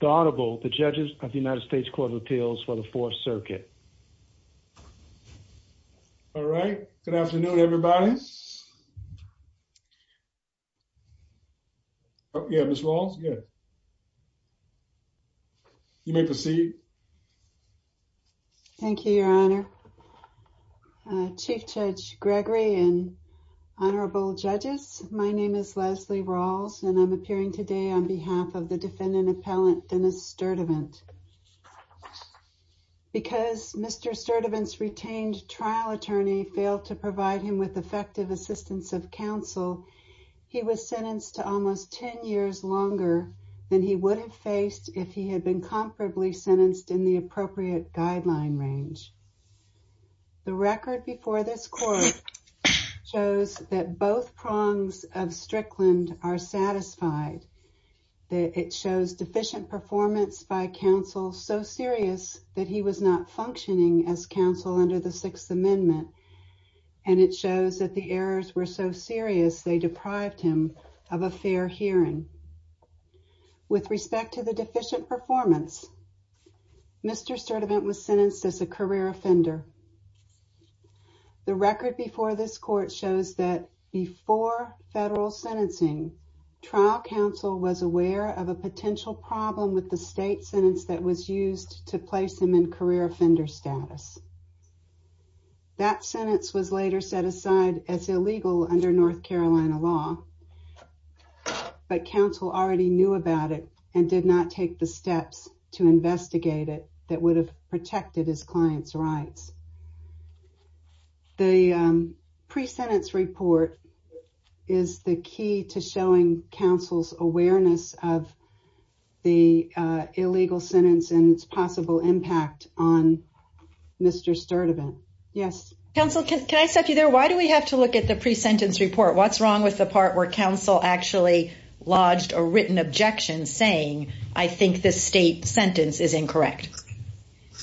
the audible, the judges of the United States Court of Appeals for the Fourth Circuit. All right, good afternoon, everybody. Oh, yeah, Miss Walls. Yeah. You may proceed. Thank you, Your Honor. Chief Judge Gregory and honorable judges. My name is Leslie Rawls, and I'm appearing today on behalf of the defendant appellant, Dennis Sturdivant. Because Mr. Sturdivant's retained trial attorney failed to provide him with effective assistance of counsel, he was sentenced to almost 10 years longer than he would have faced if he had been comparably sentenced in the appropriate guideline range. The record before this court shows that both prongs of Strickland are satisfied that it shows deficient performance by counsel so serious that he was not functioning as counsel under the Sixth Amendment, and it shows that the errors were so serious they deprived him of a fair hearing. With respect to the deficient performance, Mr. Sturdivant was sentenced as a career offender. The record before this court shows that before federal sentencing, trial counsel was aware of a potential problem with the state sentence that was used to place him in career offender status. That sentence was later set aside as illegal under North Carolina law, but counsel already knew about it and did not take the steps to investigate it that would have protected his client's rights. The pre-sentence report is the key to showing counsel's awareness of the illegal sentence and its possible impact on Mr. Sturdivant. Yes? Counsel, can I stop you there? Why do we have to look at the pre-sentence report? What's wrong with the part where counsel actually lodged a written objection saying, I think this state sentence is incorrect?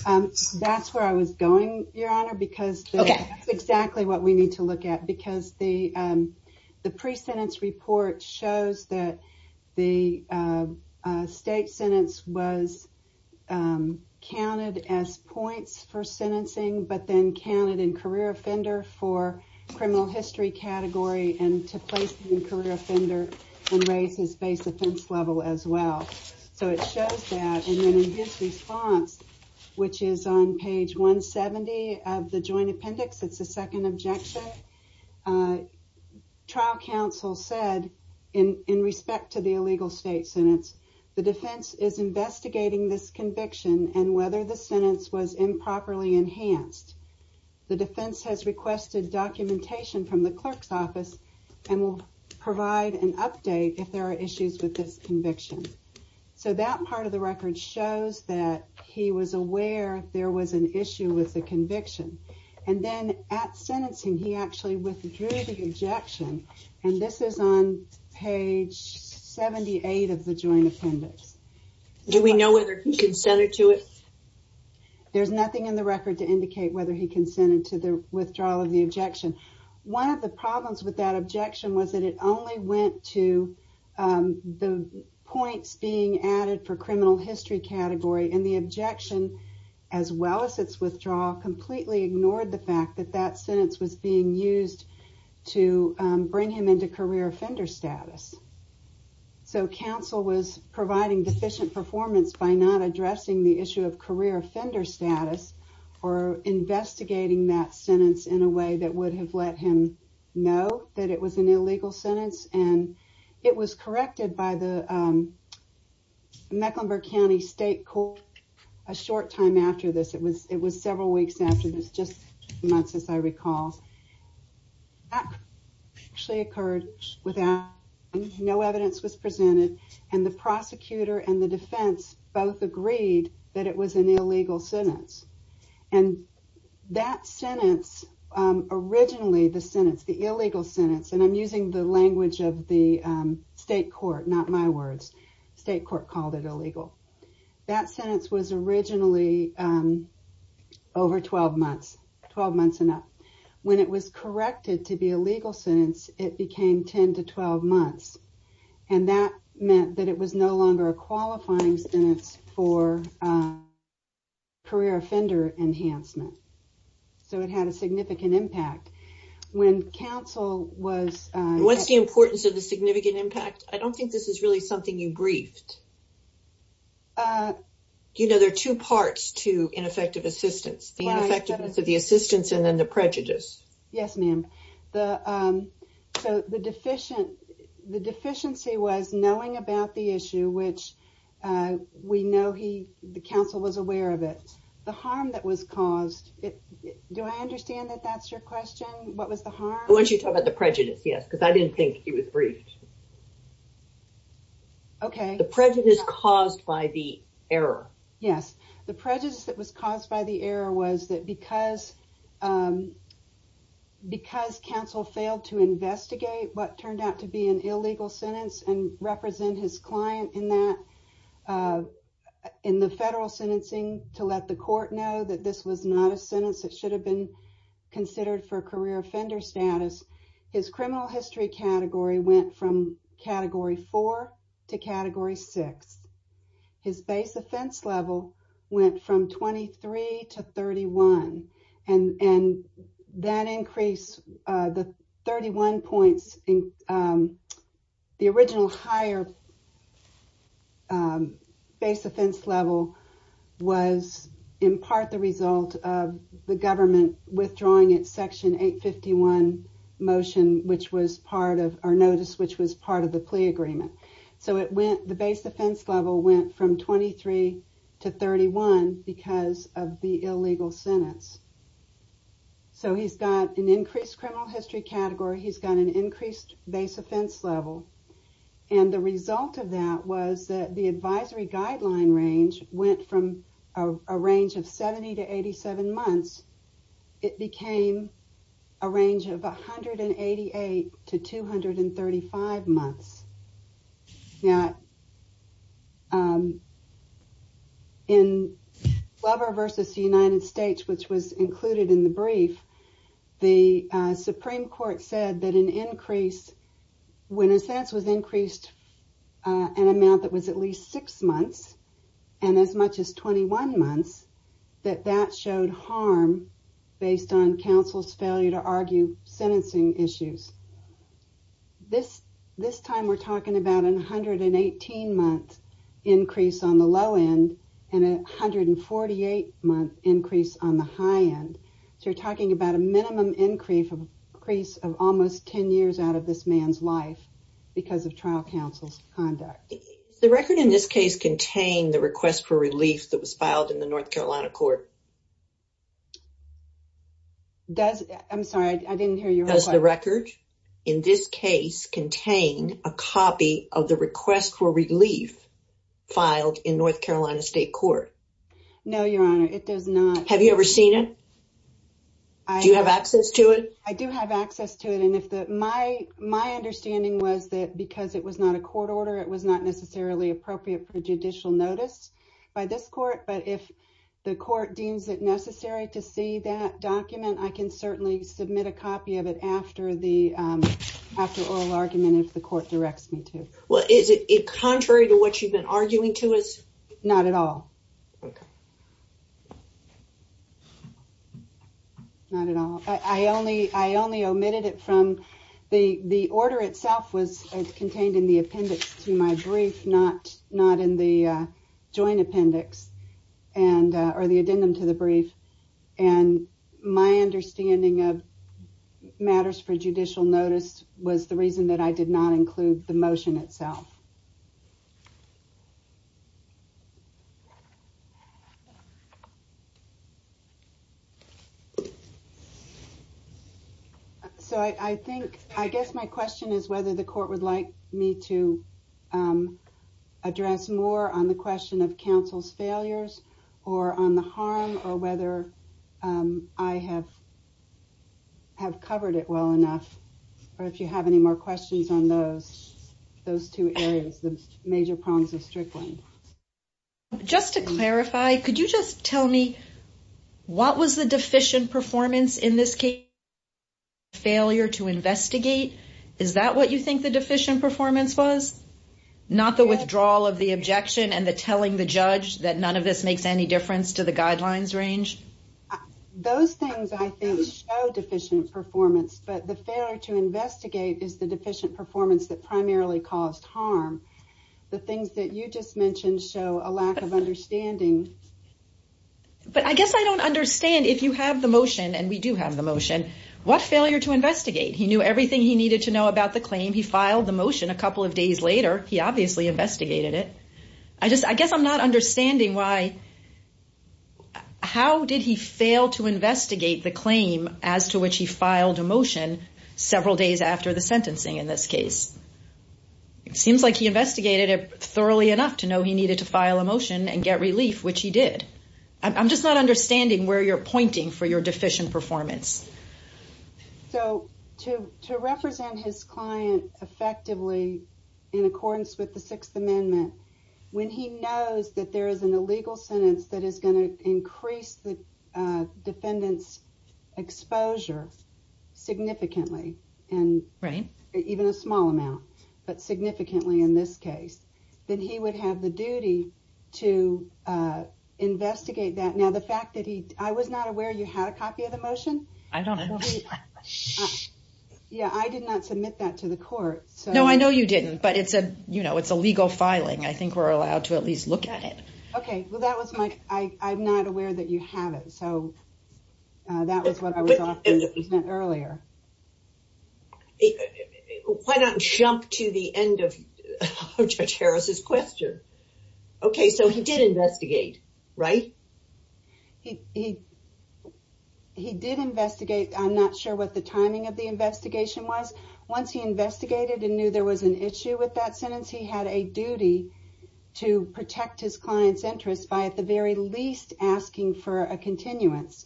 Um, that's where I was going, Your Honor, because that's exactly what we need to look at. Because the pre-sentence report shows that the state sentence was counted as points for sentencing, but then counted in career offender for criminal history category and to place him in career level as well. So it shows that, and then in his response, which is on page 170 of the joint appendix, it's the second objection, trial counsel said in respect to the illegal state sentence, the defense is investigating this conviction and whether the sentence was improperly enhanced. The defense has requested documentation from the clerk's office and will provide an update if there are issues with this conviction. So that part of the record shows that he was aware there was an issue with the conviction. And then at sentencing, he actually withdrew the objection, and this is on page 78 of the joint appendix. Do we know whether he consented to it? There's nothing in the record to indicate whether he consented to the withdrawal of the objection. One of the problems with that objection was that it only went to the points being added for criminal history category, and the objection, as well as its withdrawal, completely ignored the fact that that sentence was being used to bring him into career offender status. So counsel was providing deficient performance by not addressing the issue of career offender status or investigating that sentence in a way that would have let him know that it was an illegal sentence. And it was corrected by the Mecklenburg County State Court a short time after this. It was several weeks after this, just a few months, as I recall. That actually occurred without no evidence was presented, and the prosecutor and the defense both agreed that it was an illegal sentence. And that sentence, originally the sentence, the illegal sentence, and I'm using the language of the state court, not my words. State court called it illegal. That sentence was originally over 12 months, 12 months and up. When it was corrected to be a legal sentence, it became 10 to 12 months, and that meant that it was no longer a qualifying sentence for career offender enhancement. So it had a significant impact. When counsel was... And what's the importance of the significant impact? I don't think this is really something you briefed. You know, there are two parts to ineffective assistance, the ineffectiveness of the assistance and then the prejudice. Yes, ma'am. So the deficiency was knowing about the issue, which we know the counsel was aware of it. The harm that was caused, do I understand that that's your question? What was the harm? I want you to talk about the prejudice, yes, because I didn't think it was briefed. Okay. The prejudice caused by the error. Yes. The prejudice that was caused by the error was that because counsel failed to investigate what turned out to be an illegal sentence and represent his client in the federal sentencing to let the court know that this was not a sentence that should have been considered for career offender status, his criminal history category went from category four to category six. His base level went from 23 to 31. And that increase, the 31 points, the original higher base offense level was in part the result of the government withdrawing its section 851 motion, which was part of our notice, which was part of the plea agreement. So the base offense level went from 23 to 31 because of the illegal sentence. So he's got an increased criminal history category. He's got an increased base offense level. And the result of that was that the advisory guideline range went from a range of 70 to 87 months. It became a range of 188 to 235 months. Now, in Glover versus the United States, which was included in the brief, the Supreme Court said that an increase, when a sentence was increased, an amount that was at least six months and as much as 21 months, that that showed harm based on counsel's failure to argue sentencing issues. This time we're talking about an 118 month increase on the low end and 148 month increase on the high end. So you're talking about a minimum increase of almost 10 years out of this man's life because of trial counsel's conduct. The record in this case contained the request for relief that was filed in the North Carolina court. I'm sorry, I didn't hear you. Does the record in this case contain a copy of the request for relief filed in North Carolina State Court? No, Your Honor, it does not. Have you ever seen it? Do you have access to it? I do have access to it. And my understanding was that because it was not a court order, it was not necessarily appropriate for judicial notice by this court. But if the court deems it necessary to see that document, I can certainly submit a copy of it after the oral argument if the court directs me to. Well, is it contrary to what you've been arguing to us? Not at all. Okay. Not at all. I only omitted it from the order itself was contained in the appendix to my brief, not in the joint appendix or the addendum to the brief. And my understanding of matters for judicial notice was the reason that I did not include the motion itself. Okay. So I think, I guess my question is whether the court would like me to address more on the question of counsel's failures or on the harm or whether I have covered it well enough, or if you have any more questions on those two areas, the major prongs of Strickland. Just to clarify, could you just tell me what was the deficient performance in this case? Failure to investigate. Is that what you think the deficient performance was? Not the withdrawal of the objection and the telling the judge that none of this makes any difference to the guidelines range? Those things I think show deficient performance, but the failure to investigate is the deficient performance that primarily caused harm. The things that you just mentioned show a lack of understanding. But I guess I don't understand if you have the motion and we do have the motion, what failure to investigate? He knew everything he needed to know about the claim. He filed the motion a couple of days later. He obviously investigated it. I just, I guess I'm not understanding why, how did he fail to investigate the claim as to which he filed a motion several days after the sentencing in this case? It seems like he investigated it thoroughly enough to know he needed to file a motion and get relief, which he did. I'm just not understanding where you're pointing for your deficient performance. So to represent his client effectively in accordance with the Sixth Amendment, when he knows that there is an illegal sentence that is significantly, and even a small amount, but significantly in this case, then he would have the duty to investigate that. Now the fact that he, I was not aware you had a copy of the motion. Yeah, I did not submit that to the court. No, I know you didn't, but it's a, you know, it's a legal filing. I think we're allowed to at least look at it. Okay, well that was my, I'm not aware that you have it, so that was what I was offering earlier. Why don't we jump to the end of Judge Harris's question? Okay, so he did investigate, right? He did investigate. I'm not sure what the timing of the investigation was. Once he investigated and knew there was an issue with that for a continuance.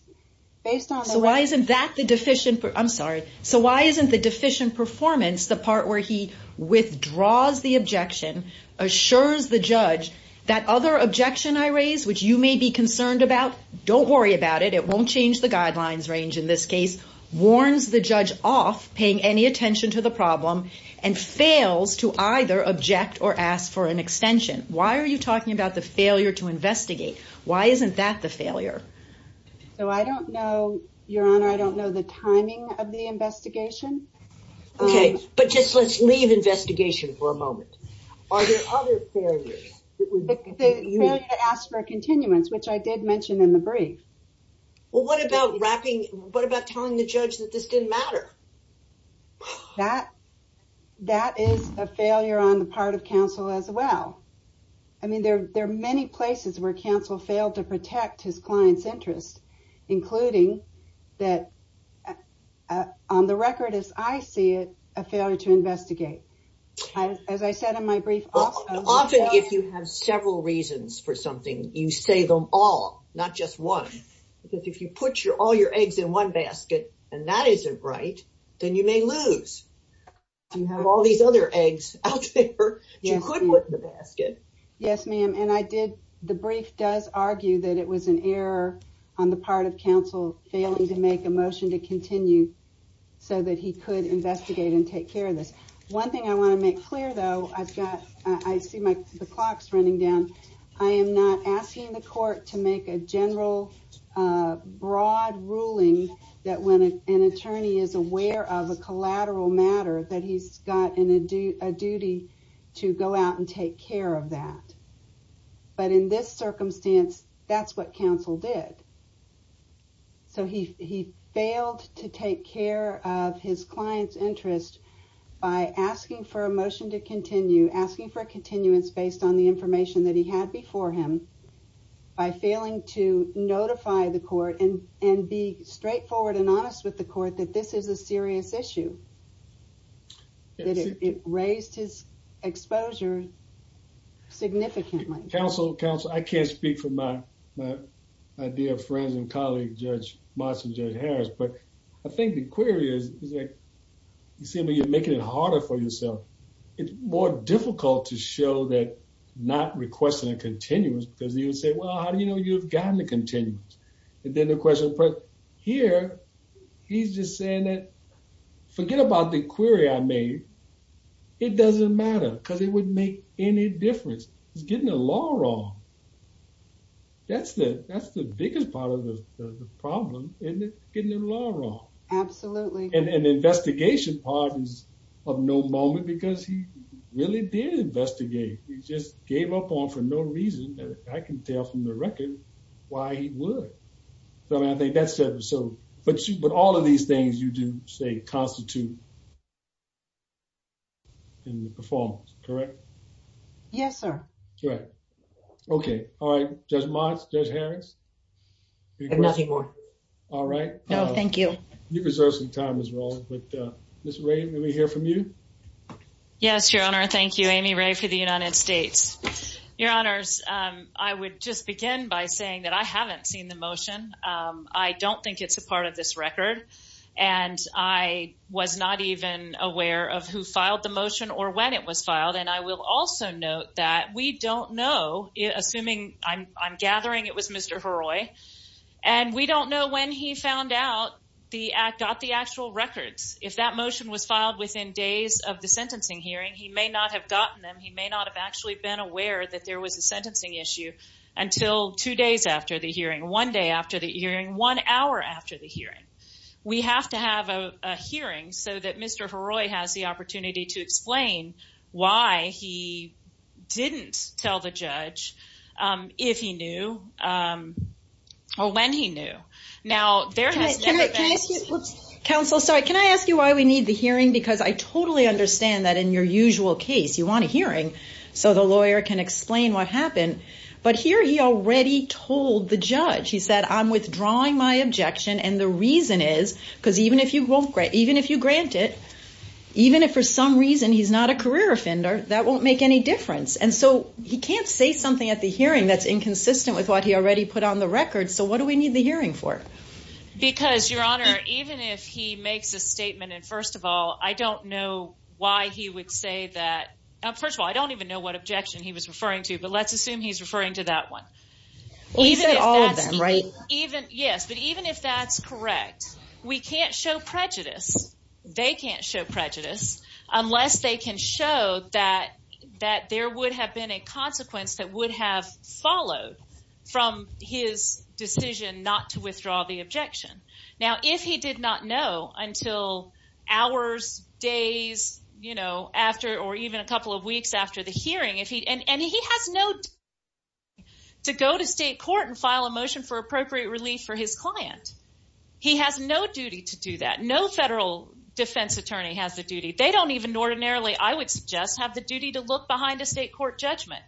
So why isn't that the deficient, I'm sorry, so why isn't the deficient performance the part where he withdraws the objection, assures the judge that other objection I raised, which you may be concerned about, don't worry about it, it won't change the guidelines range in this case, warns the judge off paying any attention to the problem, and fails to either object or ask for an extension. Why are you talking about the failure to investigate? Why isn't that the failure? So I don't know, your honor, I don't know the timing of the investigation. Okay, but just let's leave investigation for a moment. Are there other failures? The failure to ask for a continuance, which I did mention in the brief. Well what about wrapping, what about telling the judge that this didn't matter? That, that is a failure on the part of counsel as well. I mean there are many places where counsel failed to protect his client's interest, including that on the record as I see it, a failure to investigate. As I said in my brief, often if you have several reasons for something, you say them all, not just one. Because if you put your all your eggs in one basket and that isn't right, then you may lose. You have all these other eggs out there, you could flip the basket. Yes ma'am, and I did, the brief does argue that it was an error on the part of counsel failing to make a motion to continue so that he could investigate and take care of this. One thing I want to make clear though, I've got, I see my the clock's running down, I am not asking the court to make a general broad ruling that when an attorney is aware of a collateral matter that he's got a duty to go out and take care of that. But in this circumstance, that's what counsel did. So he failed to take care of his client's interest by asking for a motion to continue, asking for a continuance based on the information that he had before him, by failing to notify the court and be straightforward and honest with the court that this is a serious issue. That it raised his exposure significantly. Counsel, counsel, I can't speak for my my dear friends and colleagues, Judge Moss and Judge Harris, but I think the query is is like you see when you're making it harder for yourself, it's more difficult to show that not requesting a continuance because he would say, well how do you know you've gotten the continuance? And then the question, but here he's just saying that, forget about the query I made, it doesn't matter because it wouldn't make any difference. He's getting the law wrong. That's the, that's the biggest part of the problem, isn't it? Getting the law wrong. Absolutely. And an investigation part is of no moment because he really did investigate. He just gave up on for no reason. I can tell from the record why he would. So I think that's it. So, but all of these things you do say constitute in the performance, correct? Yes, sir. Right, okay. All right, Judge Moss, Judge Harris? Nothing more. All right. No, thank you. You deserve some time as well, but Ms. Ray, let me hear from you. Yes, your honor. Thank you, Amy Ray for the United States. Your honors, I would just begin by saying that I haven't seen the motion. I don't think it's a part of this record and I was not even aware of who filed the motion or when it was filed. And I will also note that we don't know, assuming I'm gathering it was Mr. Heroy, and we don't know when he found out got the actual records. If that motion was filed within days of the sentencing hearing, he may not have gotten them. He may not have actually been aware that there was a sentencing issue until two days after the hearing, one day after the hearing, one hour after the hearing. We have to have a hearing so that Mr. Heroy has the opportunity to explain why he didn't tell the counsel. Sorry. Can I ask you why we need the hearing? Because I totally understand that in your usual case, you want a hearing so the lawyer can explain what happened, but here he already told the judge, he said, I'm withdrawing my objection. And the reason is because even if you won't grant, even if you grant it, even if for some reason, he's not a career offender, that won't make any difference. And so he can't say something at the hearing that's inconsistent with what he already put on the record. So what do we need the hearing for? Because, Your Honor, even if he makes a statement, and first of all, I don't know why he would say that. First of all, I don't even know what objection he was referring to, but let's assume he's referring to that one. Even if that's correct, we can't show prejudice. They can't show prejudice unless they can show that there would have been a consequence that would have followed from his decision not to withdraw the objection. Now, if he did not know until hours, days, or even a couple of weeks after the hearing, and he has no duty to go to state court and file a motion for appropriate relief for his client. He has no duty to do that. No federal defense attorney has the duty. They don't even ordinarily, I would suggest, have the duty to look behind a state court judgment.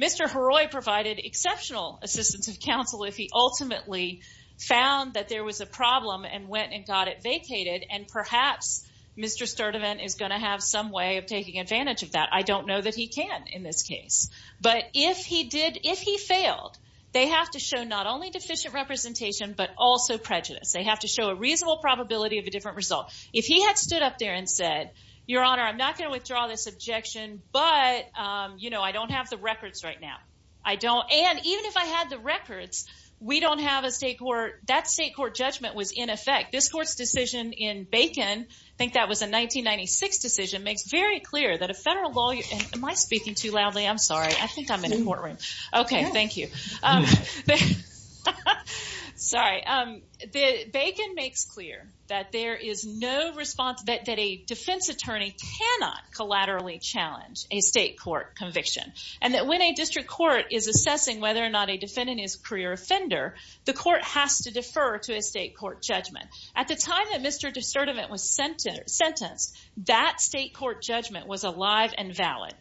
Mr. Haroi provided exceptional assistance of counsel if he ultimately found that there was a problem and went and got it vacated. And perhaps Mr. Sturdivant is going to have some way of taking advantage of that. I don't know that he can in this case. But if he did, if he failed, they have to show not only deficient representation, but also prejudice. They have to show a reasonable probability of a different result. If he had stood up there and said, Your Honor, I'm not going to withdraw this objection, but I don't have the records right now. And even if I had the records, we don't have a state court. That state court judgment was in effect. This court's decision in Bacon, I think that was a 1996 decision, makes very clear that a federal lawyer... Am I speaking too loudly? I'm sorry. I think I'm in a courtroom. Okay. Thank you. Sorry. Bacon makes clear that there is no response, that a defense attorney cannot collaterally challenge a state court conviction. And that when a district court is assessing whether or not a defendant is a career offender, the court has to defer to a state court judgment. At the time that Mr. Sturdivant was sentenced, that state court judgment was alive and valid.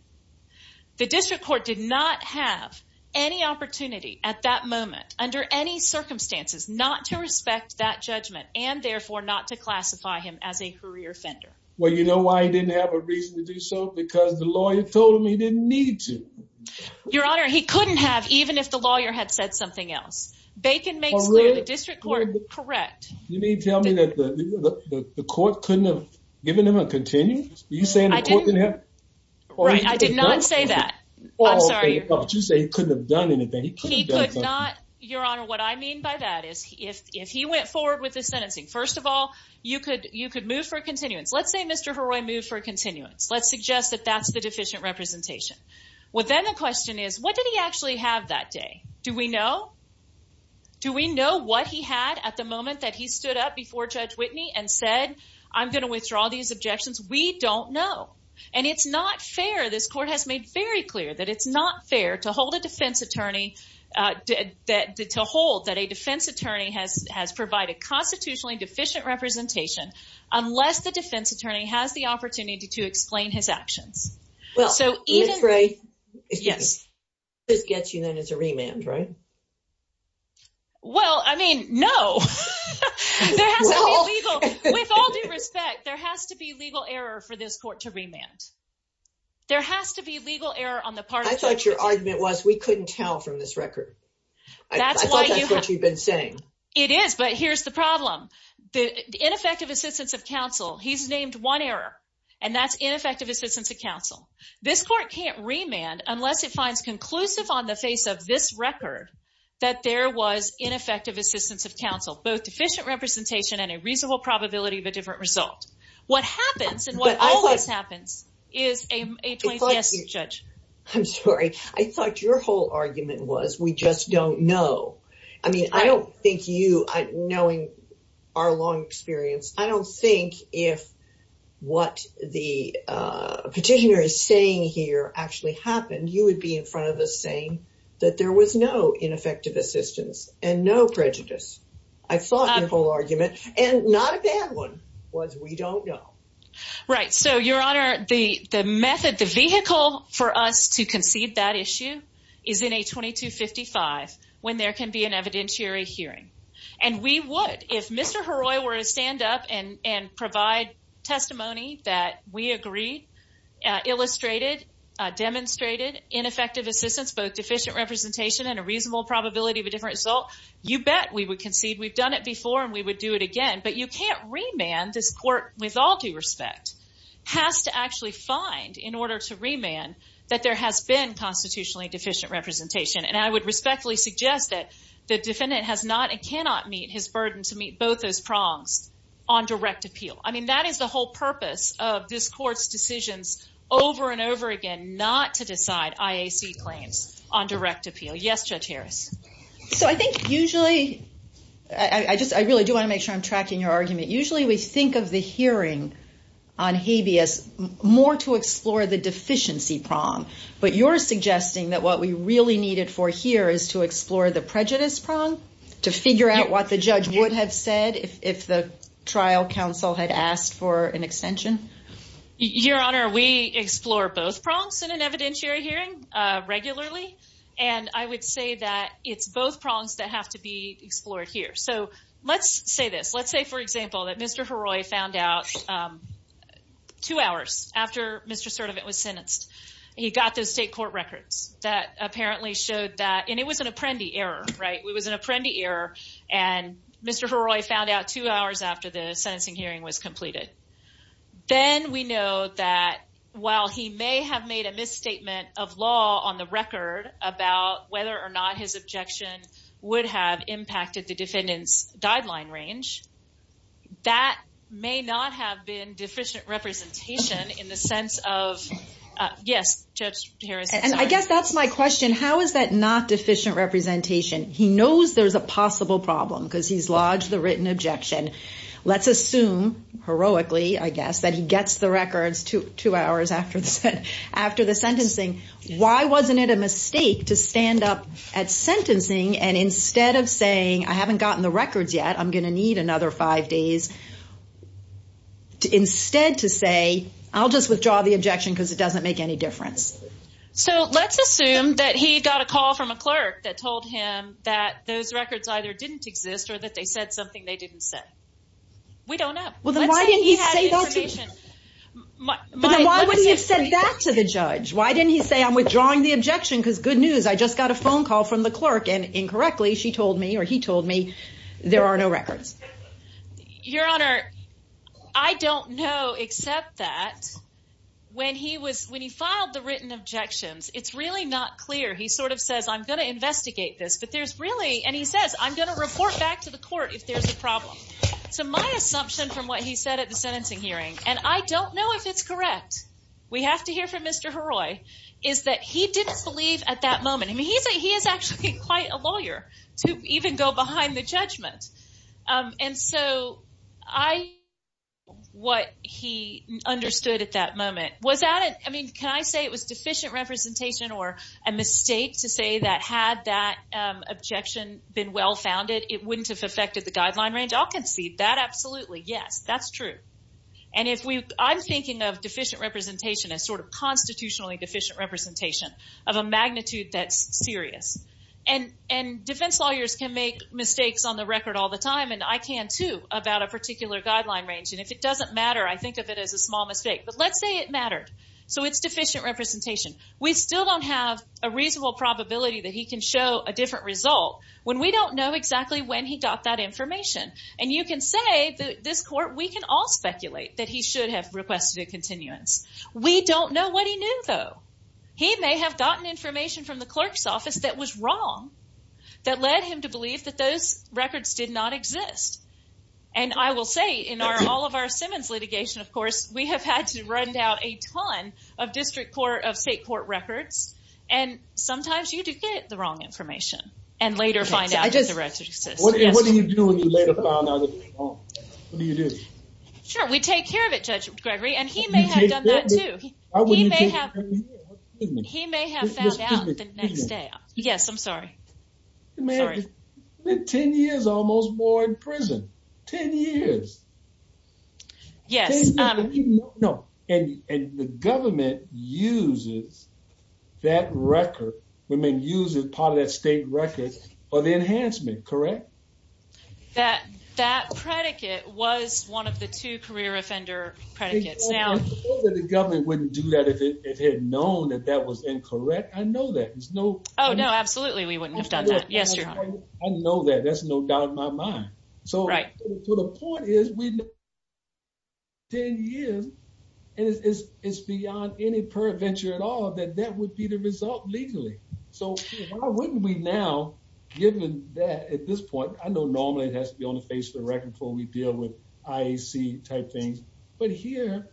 The district court did not have any opportunity at that moment, under any circumstances, not to respect that judgment and therefore not to classify him as a career offender. Well, you know why he didn't have a reason to do so? Because the lawyer told him he didn't need to. Your Honor, he couldn't have, even if the lawyer had said something else. Bacon makes clear the district court... Correct. You mean tell me that the court couldn't have given him a continue? Are you saying the court couldn't have? Right. I did not say that. I'm sorry. You say he couldn't have done anything. Your Honor, what I mean by that is, if he went forward with the sentencing, first of all, you could move for continuance. Let's say Mr. Heroy moved for continuance. Let's suggest that that's the deficient representation. Well, then the question is, what did he actually have that day? Do we know? Do we know what he had at the moment that he stood up before Judge Whitney and said, I'm going to withdraw these objections? We don't know. And it's not fair. This court has made very clear that it's not fair to hold a defense attorney, to hold that a defense attorney has provided constitutionally deficient representation unless the defense attorney has the opportunity to explain his actions. Well, Ms. Gray, this gets you known as a remand, right? Well, I mean, no. There has to be a legal, with all due respect, there has to be legal error for this court to remand. There has to be legal error on the part of the judge. I thought your argument was we couldn't tell from this record. I thought that's what you've been saying. It is, but here's the problem. The ineffective assistance of counsel, he's named one error, and that's ineffective assistance of counsel. This court can't remand unless it finds conclusive on the face of this record that there was ineffective assistance of counsel, both deficient representation and a reasonable probability of a different result. What happens, and what always happens, is a 20th guess, Judge. I'm sorry. I thought your whole argument was we just don't know. I mean, I don't think you, knowing our long experience, I don't think if what the petitioner is saying here actually happened, you would be in front of us saying that there was no ineffective assistance and no prejudice. I thought your whole argument, and not a bad one, was we don't know. Right. So, Your Honor, the method, the vehicle for us to concede that issue is in a 2255 when there can be an evidentiary hearing, and we would. If Mr. Haroi were to stand up and provide testimony that we agreed, illustrated, demonstrated ineffective assistance, both deficient representation and a reasonable probability of a different result, you bet we would concede. We've done it before, and we would do it again. But you can't remand. This court, with all due respect, has to actually find, in order to remand, that there has been constitutionally deficient representation. And I would respectfully suggest that the defendant has not and cannot meet his burden to meet both those prongs on direct appeal. I mean, that is the whole purpose of this court's decisions over and over again, not to decide IAC claims on direct appeal. Yes, Judge Harris. So, I think usually, I just, I really do want to make sure I'm tracking your argument. Usually, we think of the hearing on habeas more to explore the deficiency prong. But you're suggesting that what we really needed for here is to explore the prejudice prong, to figure out what the judge would have said if the trial counsel had asked for an extension? Your Honor, we explore both prongs in an evidentiary hearing regularly. And I would say that it's both prongs that have to be explored here. So, let's say this. Let's say, for example, that Mr. Haroi found out two hours after Mr. Sertovic was sentenced, he got those state court records that apparently showed that, and it was an apprendee error, right? It was an apprendee error. And Mr. Haroi found out two hours after the sentencing hearing was completed. Then we know that while he may have made a misstatement of law on the record about whether or not his objection would have impacted the defendant's guideline range, that may not have been deficient representation in the sense of, yes, Judge Harris. And I guess that's my question. How is that not deficient representation? He knows there's a possible problem because he's lodged the written objection. Let's assume, heroically, I guess, that he gets the records two hours after the sentencing. Why wasn't it a mistake to stand up at sentencing and instead of saying, I haven't gotten the records yet, I'm going to need another five days, instead to say, I'll just withdraw the objection because it doesn't make any difference. So let's assume that he got a call from a clerk that told him that those records either didn't exist or that they said something they didn't say. We don't know. Well, then why didn't he say that to the judge? Why didn't he say, I'm withdrawing the objection because good news, I just got a phone call from the clerk and incorrectly, she told me or he told me there are no records. Your Honor, I don't know except that when he filed the written objections, it's really not clear. He sort of says, I'm going to investigate this, but there's really, and he says, I'm going to report back to the court if there's a problem. So my assumption from what he said at the sentencing hearing, and I don't know if it's correct, we have to hear from Mr. Heroy, is that he didn't believe at that moment. I mean, he is actually quite a lawyer to even go behind the judgment. And so I, what he understood at that moment, was that, I mean, can I say it was deficient representation or a mistake to say that had that objection been well-founded, it wouldn't have affected the guideline range? I'll concede that absolutely, yes, that's true. And if we, I'm thinking of deficient representation as sort of constitutionally deficient representation of a magnitude that's serious. And defense lawyers can make mistakes on the record all the time, and I can too about a particular guideline range. And if it doesn't matter, I think of it as a small mistake, but let's say it mattered. So it's deficient representation. We still don't have a reasonable probability that he can show a different result when we don't know exactly when he got that information. And you can say that this court, we can all speculate that he may have gotten information from the clerk's office that was wrong, that led him to believe that those records did not exist. And I will say in all of our Simmons litigation, of course, we have had to run down a ton of district court, of state court records. And sometimes you do get the wrong information and later find out that the records exist. What do you do when you later find out that it's wrong? What do you do? Sure. We take care of it, Judge Gregory, and he may have done that too. He may have found out the next day. Yes, I'm sorry. You may have been 10 years or almost more in prison, 10 years. Yes. And the government uses that record, women uses part of that state record for the enhancement, correct? That predicate was one of the two career offender predicates. I suppose that the government wouldn't do that if it had known that that was incorrect. I know that. Oh, no, absolutely. We wouldn't have done that. Yes, Your Honor. I know that. That's no doubt in my mind. So the point is, we've been 10 years, and it's beyond any perventure at all that that would be the result legally. So why wouldn't we given that at this point, I know normally it has to be on the face of the record before we deal with IAC type things, but here,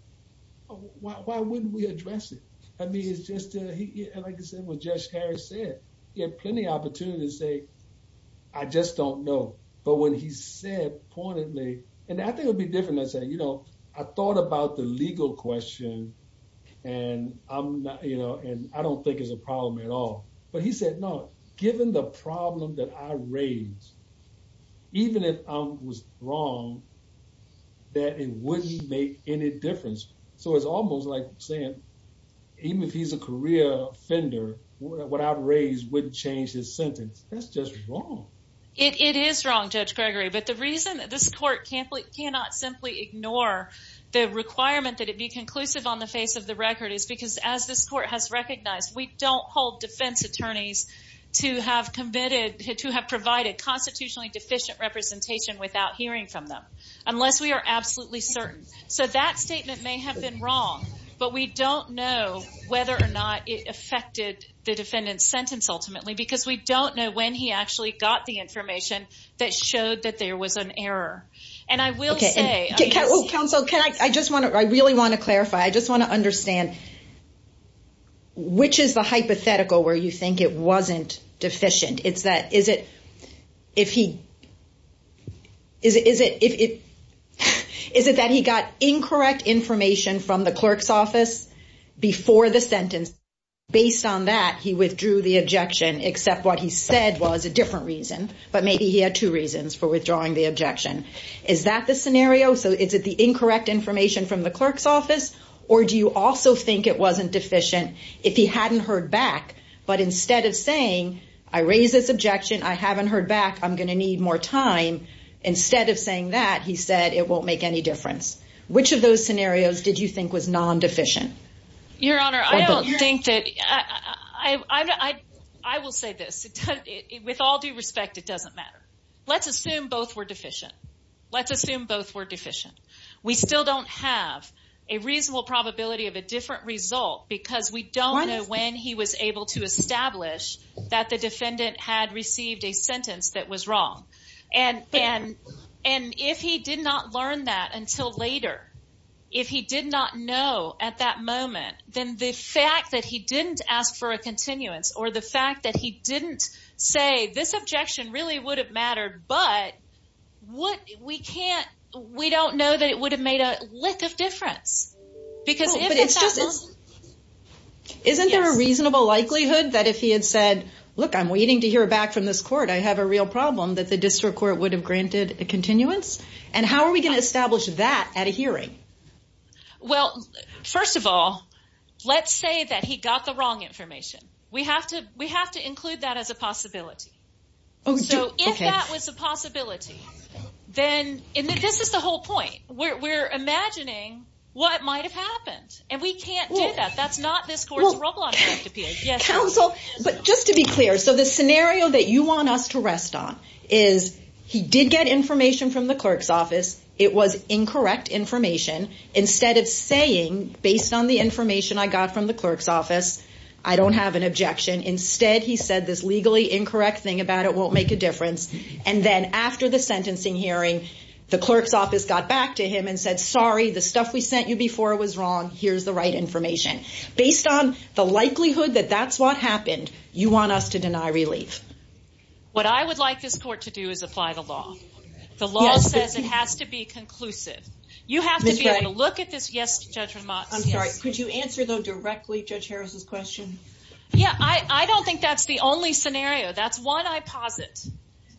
why wouldn't we address it? I mean, it's just, like I said, what Judge Harris said, he had plenty of opportunity to say, I just don't know. But when he said pointedly, and I think it'd be different than saying, I thought about the problem that I raised, even if I was wrong, that it wouldn't make any difference. So it's almost like saying, even if he's a career offender, what I've raised wouldn't change his sentence. That's just wrong. It is wrong, Judge Gregory. But the reason that this court cannot simply ignore the requirement that it be conclusive on the face of the record is because as this court has to have committed, to have provided constitutionally deficient representation without hearing from them, unless we are absolutely certain. So that statement may have been wrong, but we don't know whether or not it affected the defendant's sentence ultimately, because we don't know when he actually got the information that showed that there was an error. And I will say- Okay. Counsel, can I, I just want to, I really want to clarify. I just want to understand which is the hypothetical where you think it wasn't deficient. It's that, is it, if he, is it that he got incorrect information from the clerk's office before the sentence, based on that, he withdrew the objection, except what he said was a different reason, but maybe he had two reasons for withdrawing the objection. Is that the scenario? So is it the incorrect information from the clerk's office, or do you also think it wasn't deficient if he hadn't heard back? But instead of saying, I raised this objection, I haven't heard back, I'm going to need more time. Instead of saying that, he said, it won't make any difference. Which of those scenarios did you think was non-deficient? Your Honor, I don't think that, I will say this, with all due respect, it doesn't matter. Let's assume both were deficient. Let's assume both were deficient. We still don't have a reasonable probability of a different result because we don't know when he was able to establish that the defendant had received a sentence that was wrong. And if he did not learn that until later, if he did not know at that moment, then the fact that he didn't ask for a continuance, or the fact that he didn't say, this objection really would have mattered, but we don't know that it would have made a lick of difference. Isn't there a reasonable likelihood that if he had said, look, I'm waiting to hear back from this court, I have a real problem, that the district court would have granted a continuance? And how are we going to establish that at a hearing? Well, first of all, let's say that he got the wrong information. We have to include that as a possibility. So if that was a possibility, then, and this is the whole point, we're imagining what might have happened, and we can't do that. That's not this court's rubble on a shift appeal. Counsel, but just to be clear, so the scenario that you want us to rest on is he did get information from the clerk's office. It was incorrect information. Instead of saying, based on the information I got from the clerk's office, I don't have an objection. Instead, he said this legally incorrect thing about it won't make a difference. And then after the sentencing hearing, the clerk's office got back to him and said, sorry, the stuff we sent you before was wrong. Here's the right information. Based on the likelihood that that's what happened, you want us to deny relief. What I would like this court to do is apply the law. The law says it has to be conclusive. You have to be able to look at this. I'm sorry. Could you answer though directly Judge Harris's question? Yeah. I don't think that's the only scenario. That's one I posit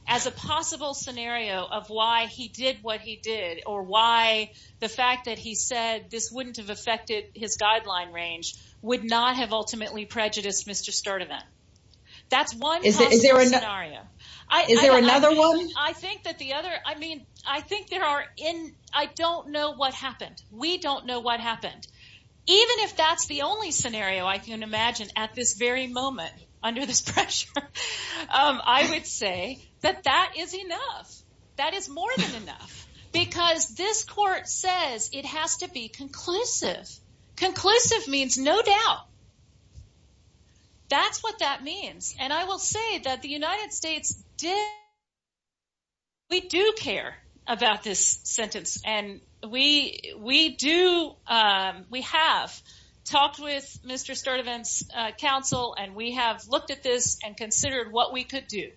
as a possible scenario of why he did what he did or why the fact that he said this wouldn't have affected his guideline range would not have ultimately prejudiced Mr. Sturdivant. That's one possible scenario. Is there another one? I think that the other, I mean, I think there are in, I don't know what happened. We don't know what happened. Even if that's the only scenario I can imagine at this very moment under this pressure, I would say that that is enough. That is more than enough because this court says it has to be conclusive. Conclusive means no doubt. That's what that means. And I will say that the United about this sentence and we do, we have talked with Mr. Sturdivant's counsel and we have looked at this and considered what we could do.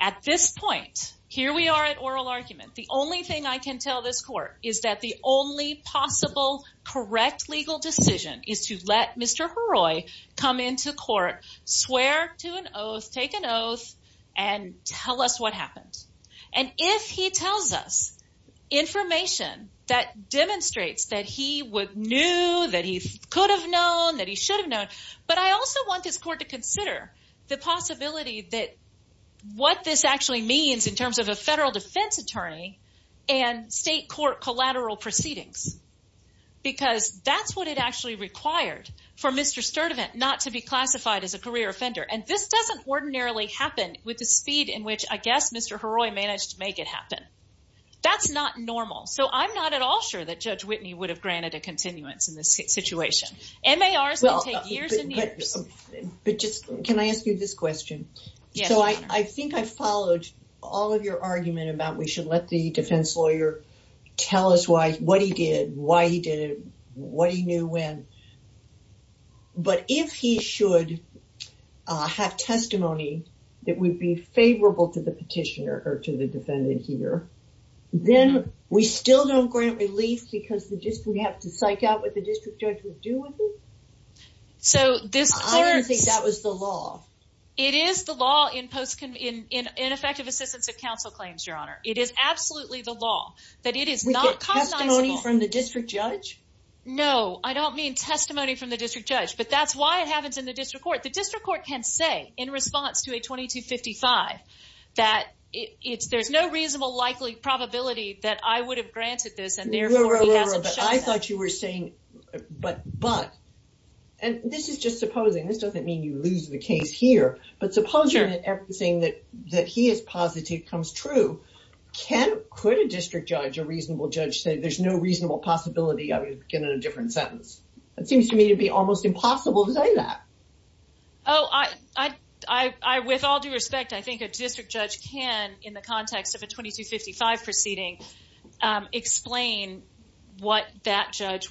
At this point, here we are at oral argument. The only thing I can tell this court is that the only possible correct legal decision is to let Mr. come into court, swear to an oath, take an oath and tell us what happened. And if he tells us information that demonstrates that he would knew, that he could have known, that he should have known. But I also want this court to consider the possibility that what this actually means in terms of a federal defense attorney and state court collateral proceedings. Because that's what it actually required for Mr. Sturdivant not to be classified as a career offender. And this doesn't ordinarily happen with the speed in which I guess Mr. Heroy managed to make it happen. That's not normal. So I'm not at all sure that Judge Whitney would have granted a continuance in this situation. MARs can take years and years. But just, can I ask you this question? So I think I followed all of your argument about we should let the defense lawyer tell us what he did, why he did it, what he knew when. But if he should have testimony that would be favorable to the petitioner or to the defendant here, then we still don't grant relief because the district would have to psych out what the district judge would do with it? I didn't think that was the law. It is the law in effective assistance of counsel claims, Your Honor. It is absolutely the law that it is not customizable. We get testimony from the district judge? No, I don't mean testimony from the district judge. But that's why it happens in the district court. The district court can say in response to a 2255 that there's no reasonable likely probability that I would have granted this and therefore he hasn't shown that. But I thought you were saying but. And this is just supposing. This doesn't mean you lose the case here. But supposing everything that he is positive comes true, can, could a district judge, a reasonable judge, say there's no reasonable possibility I would get in a different sentence? It seems to me to be almost impossible to say that. Oh, with all due respect, I think a district judge can, in the context of a 2255 proceeding, explain what that record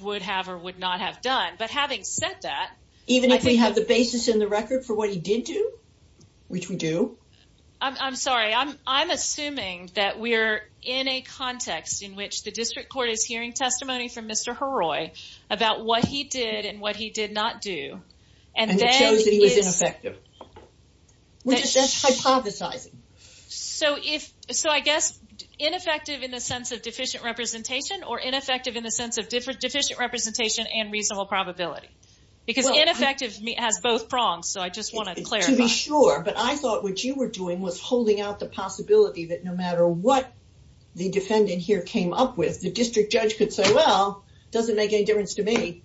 for what he did do, which we do. I'm sorry. I'm, I'm assuming that we're in a context in which the district court is hearing testimony from Mr. Heroy about what he did and what he did not do. And then it shows that he was ineffective. We're just hypothesizing. So if, so I guess ineffective in the sense of deficient representation or ineffective in the sense of different deficient representation and reasonable probability. Because ineffective has both prongs. So I just want to clarify. To be sure. But I thought what you were doing was holding out the possibility that no matter what the defendant here came up with, the district judge could say, well, doesn't make any difference to me.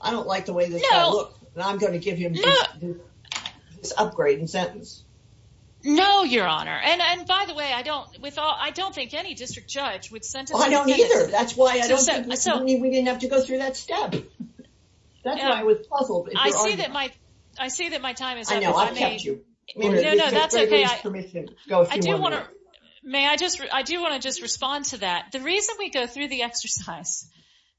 I don't like the way that I look. And I'm going to give him this upgrade in sentence. No, Your Honor. And, and by the way, I don't, with all, I don't think any district judge would sentence me. I don't either. That's why I don't have to go through that step. That's why I was puzzled. I see that my, I see that my time is up. I know, I've kept you. I mean, no, no, that's okay. I do want to, may I just, I do want to just respond to that. The reason we go through the exercise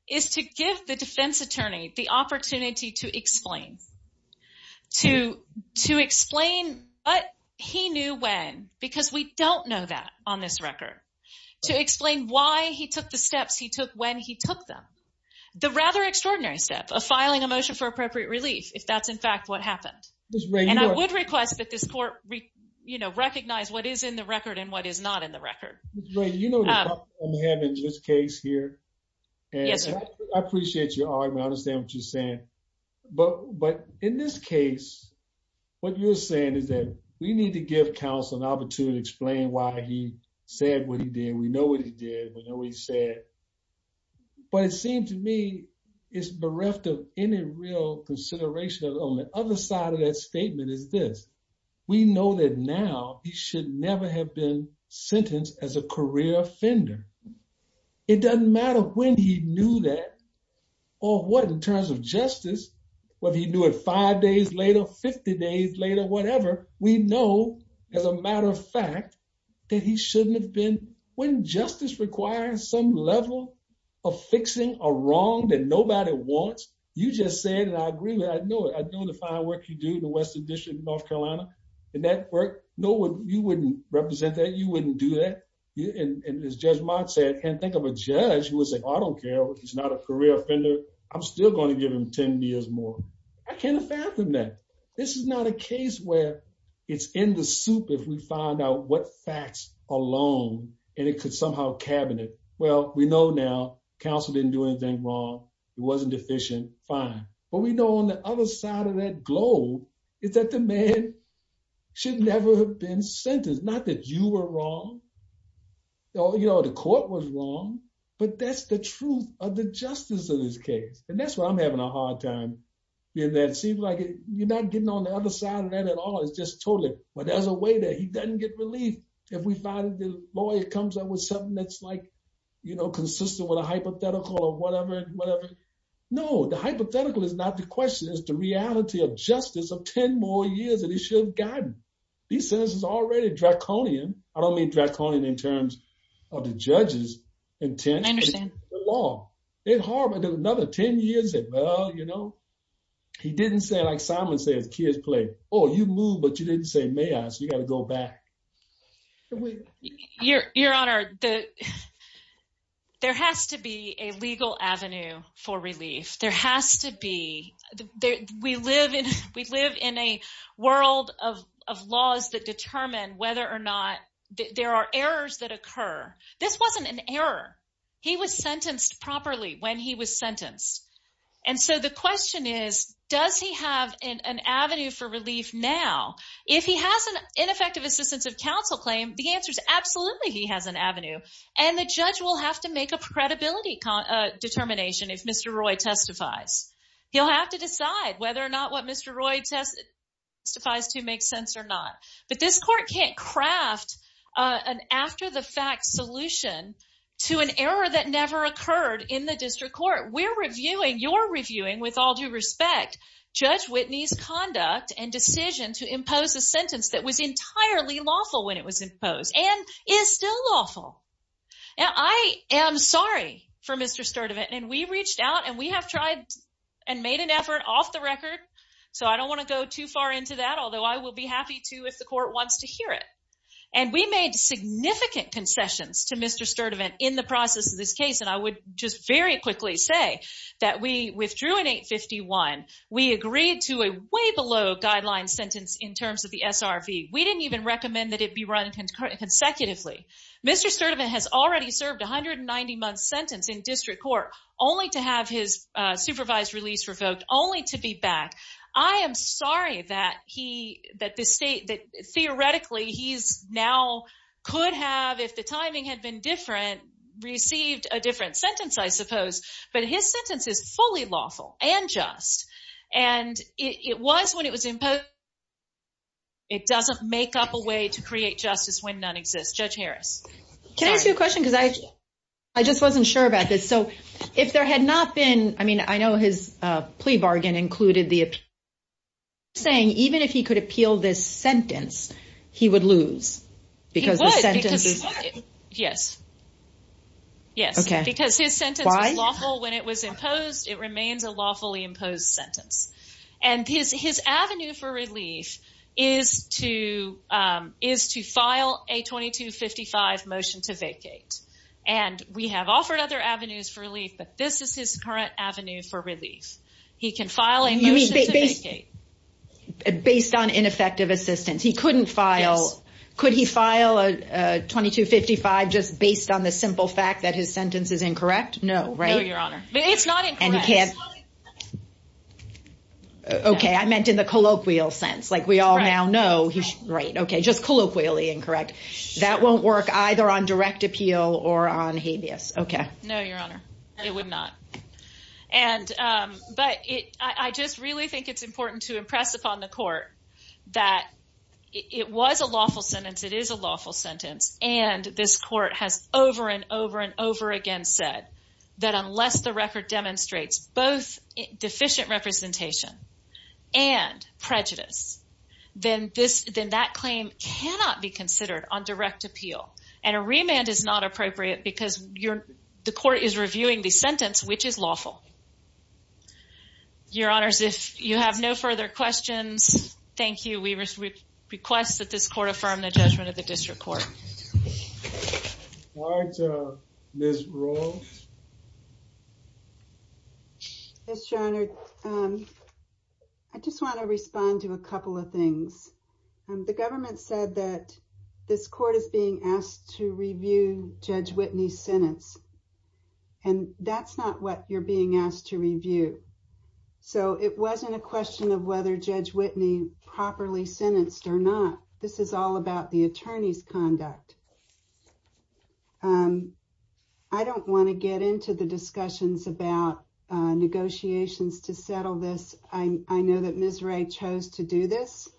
is to give the defense attorney the opportunity to explain. To, to explain what he knew when, because we don't know that on this record. To explain why he took the steps he took when he took them. The rather extraordinary step of filing a motion for appropriate relief, if that's in fact what happened. And I would request that this court, you know, recognize what is in the record and what is not in the record. You know, I'm having this case here and I appreciate your argument. I understand what you're saying. But, but in this case, what you're saying is that we need to give counsel an opportunity to explain what he did. We know what he did. We know what he said. But it seems to me it's bereft of any real consideration. On the other side of that statement is this. We know that now he should never have been sentenced as a career offender. It doesn't matter when he knew that or what in terms of justice, whether he knew it five days later, 50 days later, whatever, we know as a matter of fact that he shouldn't have been. When justice requires some level of fixing a wrong that nobody wants, you just said, and I agree with, I know it. I know the fine work you do in the Western District of North Carolina and that work, no one, you wouldn't represent that. You wouldn't do that. And as Judge Mott said, can't think of a judge who would say, I don't care if he's not a career offender, I'm still going to give him 10 years more. I can't fathom that. This is not a case where it's in the soup if we find out what facts alone, and it could somehow cabinet. Well, we know now counsel didn't do anything wrong. He wasn't deficient. Fine. But we know on the other side of that globe is that the man should never have been sentenced. Not that you were wrong. No, you know, the court was wrong, but that's the truth of the justice of this case. And that's why I'm having a hard time in that. It seems like you're not getting on the other side of that at all. It's just totally, well, there's a way that he doesn't get relief. If we find that the lawyer comes up with something that's like, you know, consistent with a hypothetical or whatever, whatever. No, the hypothetical is not the question. It's the reality of justice of 10 more years that you should have gotten. These sentences are already draconian. I don't mean draconian in terms of the judge's intent. I understand. It's hard. But another 10 years, well, you know, he didn't say, like Simon says, kids play. Oh, you moved, but you didn't say may I, so you got to go back. Your Honor, there has to be a legal avenue for relief. There has to be. We live in a world of laws that determine whether or not there are errors that occur. This wasn't an error. He was sentenced properly when he was sentenced. And so the question is, does he have an avenue for relief now? If he has an ineffective assistance of counsel claim, the answer is absolutely he has an avenue. And the judge will have to make a credibility determination if Mr. Roy testifies. He'll have to decide whether or not what Mr. Roy testifies to makes sense or not. But this court can't craft an after the fact solution to an error that never occurred in the district court. We're reviewing, you're reviewing, with all due respect, Judge Whitney's conduct and decision to impose a sentence that was entirely lawful when it was imposed and is still lawful. I am sorry for Mr. Sturdivant. And we reached out and we have tried and made an effort off the record. So I don't want to go too far into that, although I will be happy to if the court wants to hear it. And we made significant concessions to Mr. Sturdivant in the process of this case. And I would just very quickly say that we withdrew in 851. We agreed to a way below guideline sentence in terms of the SRV. We didn't even recommend that it be run consecutively. Mr. Sturdivant has already served a 190-month sentence in district court only to have his supervised release revoked, only to be back. I am sorry that he, that this state, that theoretically he's now could have, if the timing had been different, received a different sentence, I suppose. But his sentence is fully lawful and just. And it was when it was imposed. It doesn't make up a way to create justice when none exists. Judge Harris. Can I ask you a question? Because I just wasn't sure about this. So if there had not been, I mean, I know his plea bargain included the saying, even if he could appeal this sentence, he would lose. Because the sentence is. He would. Yes. Yes. Because his sentence was lawful when it was imposed. It remains a lawfully imposed sentence. And his avenue for relief is to, is to file a 2255 motion to vacate. And we have offered other avenues for relief, but this is his current avenue for relief. He can file a motion to vacate. Based on ineffective assistance, he couldn't file. Could he file a 2255 just based on the simple fact that his sentence is incorrect? No. Right. Your Honor. It's not. And you can't. Okay. I meant in the colloquial sense, like we all now know he's right. Okay. Just colloquially incorrect. That won't work either on direct appeal or on habeas. Okay. No, Your Honor. It would not. And, but it, I just really think it's important to impress upon the court that it was a lawful sentence. It is a lawful sentence. And this court has over and over and over again said that unless the record demonstrates both deficient representation and prejudice, then this, then that claim cannot be considered on direct appeal. And a remand is not appropriate because you're, the court is reviewing the sentence, which is lawful. Your Honors, if you have no further questions, thank you. We request that this court affirm the judgment of the district court. All right. Ms. Rowe. Yes, Your Honor. I just want to respond to a couple of things. The government said that this court is being asked to review Judge Whitney's sentence. And that's not what you're being asked to review. So it wasn't a question of whether Judge Whitney properly sentenced or not. This is all about the attorney's conduct. I don't want to get into the discussions about negotiations to settle this. I know that Ms. Wray chose to do this.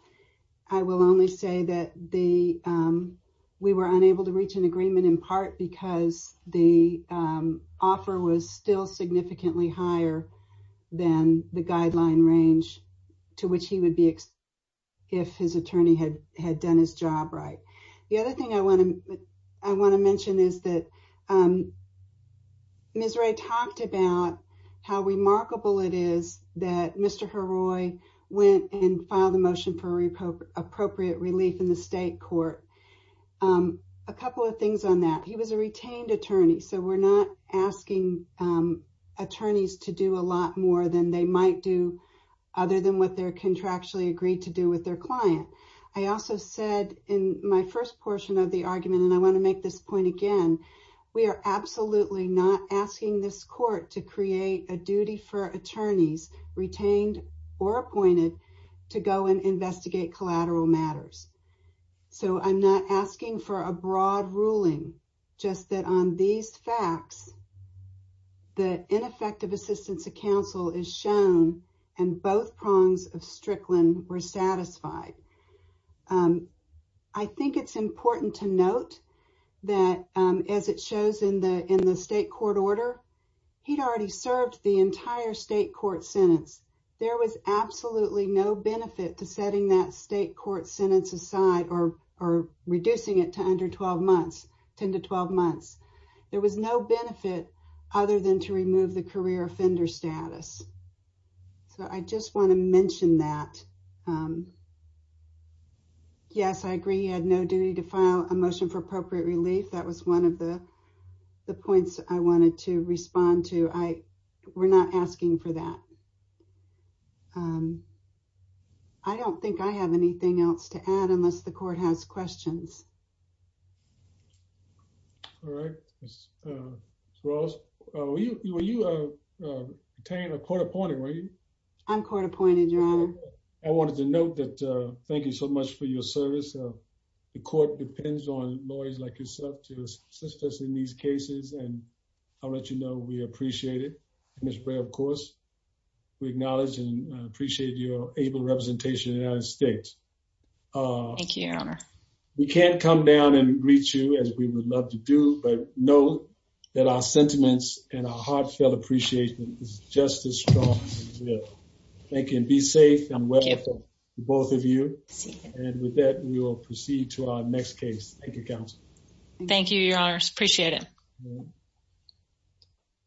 I will only say that the we were unable to reach an agreement in part because the offer was still significantly higher than the guideline range to which he would be if his attorney had done his job right. The other thing I want to mention is that Ms. Wray talked about how remarkable it is that Mr. Heroy went and filed a motion for appropriate relief in the state court. A couple of things on that. He was a retained attorney. So we're not asking attorneys to do a lot more than they might do other than what they're contractually agreed to do with their client. I also said in my first portion of the argument, and I want to make this point again, we are absolutely not asking this court to create a duty for attorneys retained or appointed to go and investigate collateral matters. So I'm not asking for a broad ruling, just that on these facts, the ineffective assistance of counsel is shown and both prongs of Strickland were satisfied. I think it's important to note that as it shows in the state court order, he'd already served the entire state court sentence. There was absolutely no benefit to setting that state court sentence aside or reducing it to under 12 months, 10 to 12 months. There was no benefit other than to remove the career offender status. So I just want to mention that. Yes, I agree. He had no duty to file a motion for appropriate relief. That was one of the points I wanted to respond to. We're not asking for that. I don't think I have anything else to add unless the court has questions. All right. Ross, were you a court appointed? I'm court appointed, your honor. I wanted to note that thank you so much for your service. The court depends on lawyers like yourself to assist us in these cases, and I'll let you know we appreciate it. Ms. Bray, of course, we acknowledge and appreciate your able representation in the United States. Thank you, your honor. We can't do come down and greet you as we would love to do, but know that our sentiments and our heartfelt appreciation is just as strong as we will. Thank you, and be safe and well to both of you. And with that, we will proceed to our next case. Thank you, counsel. Thank you, your honors. Appreciate it.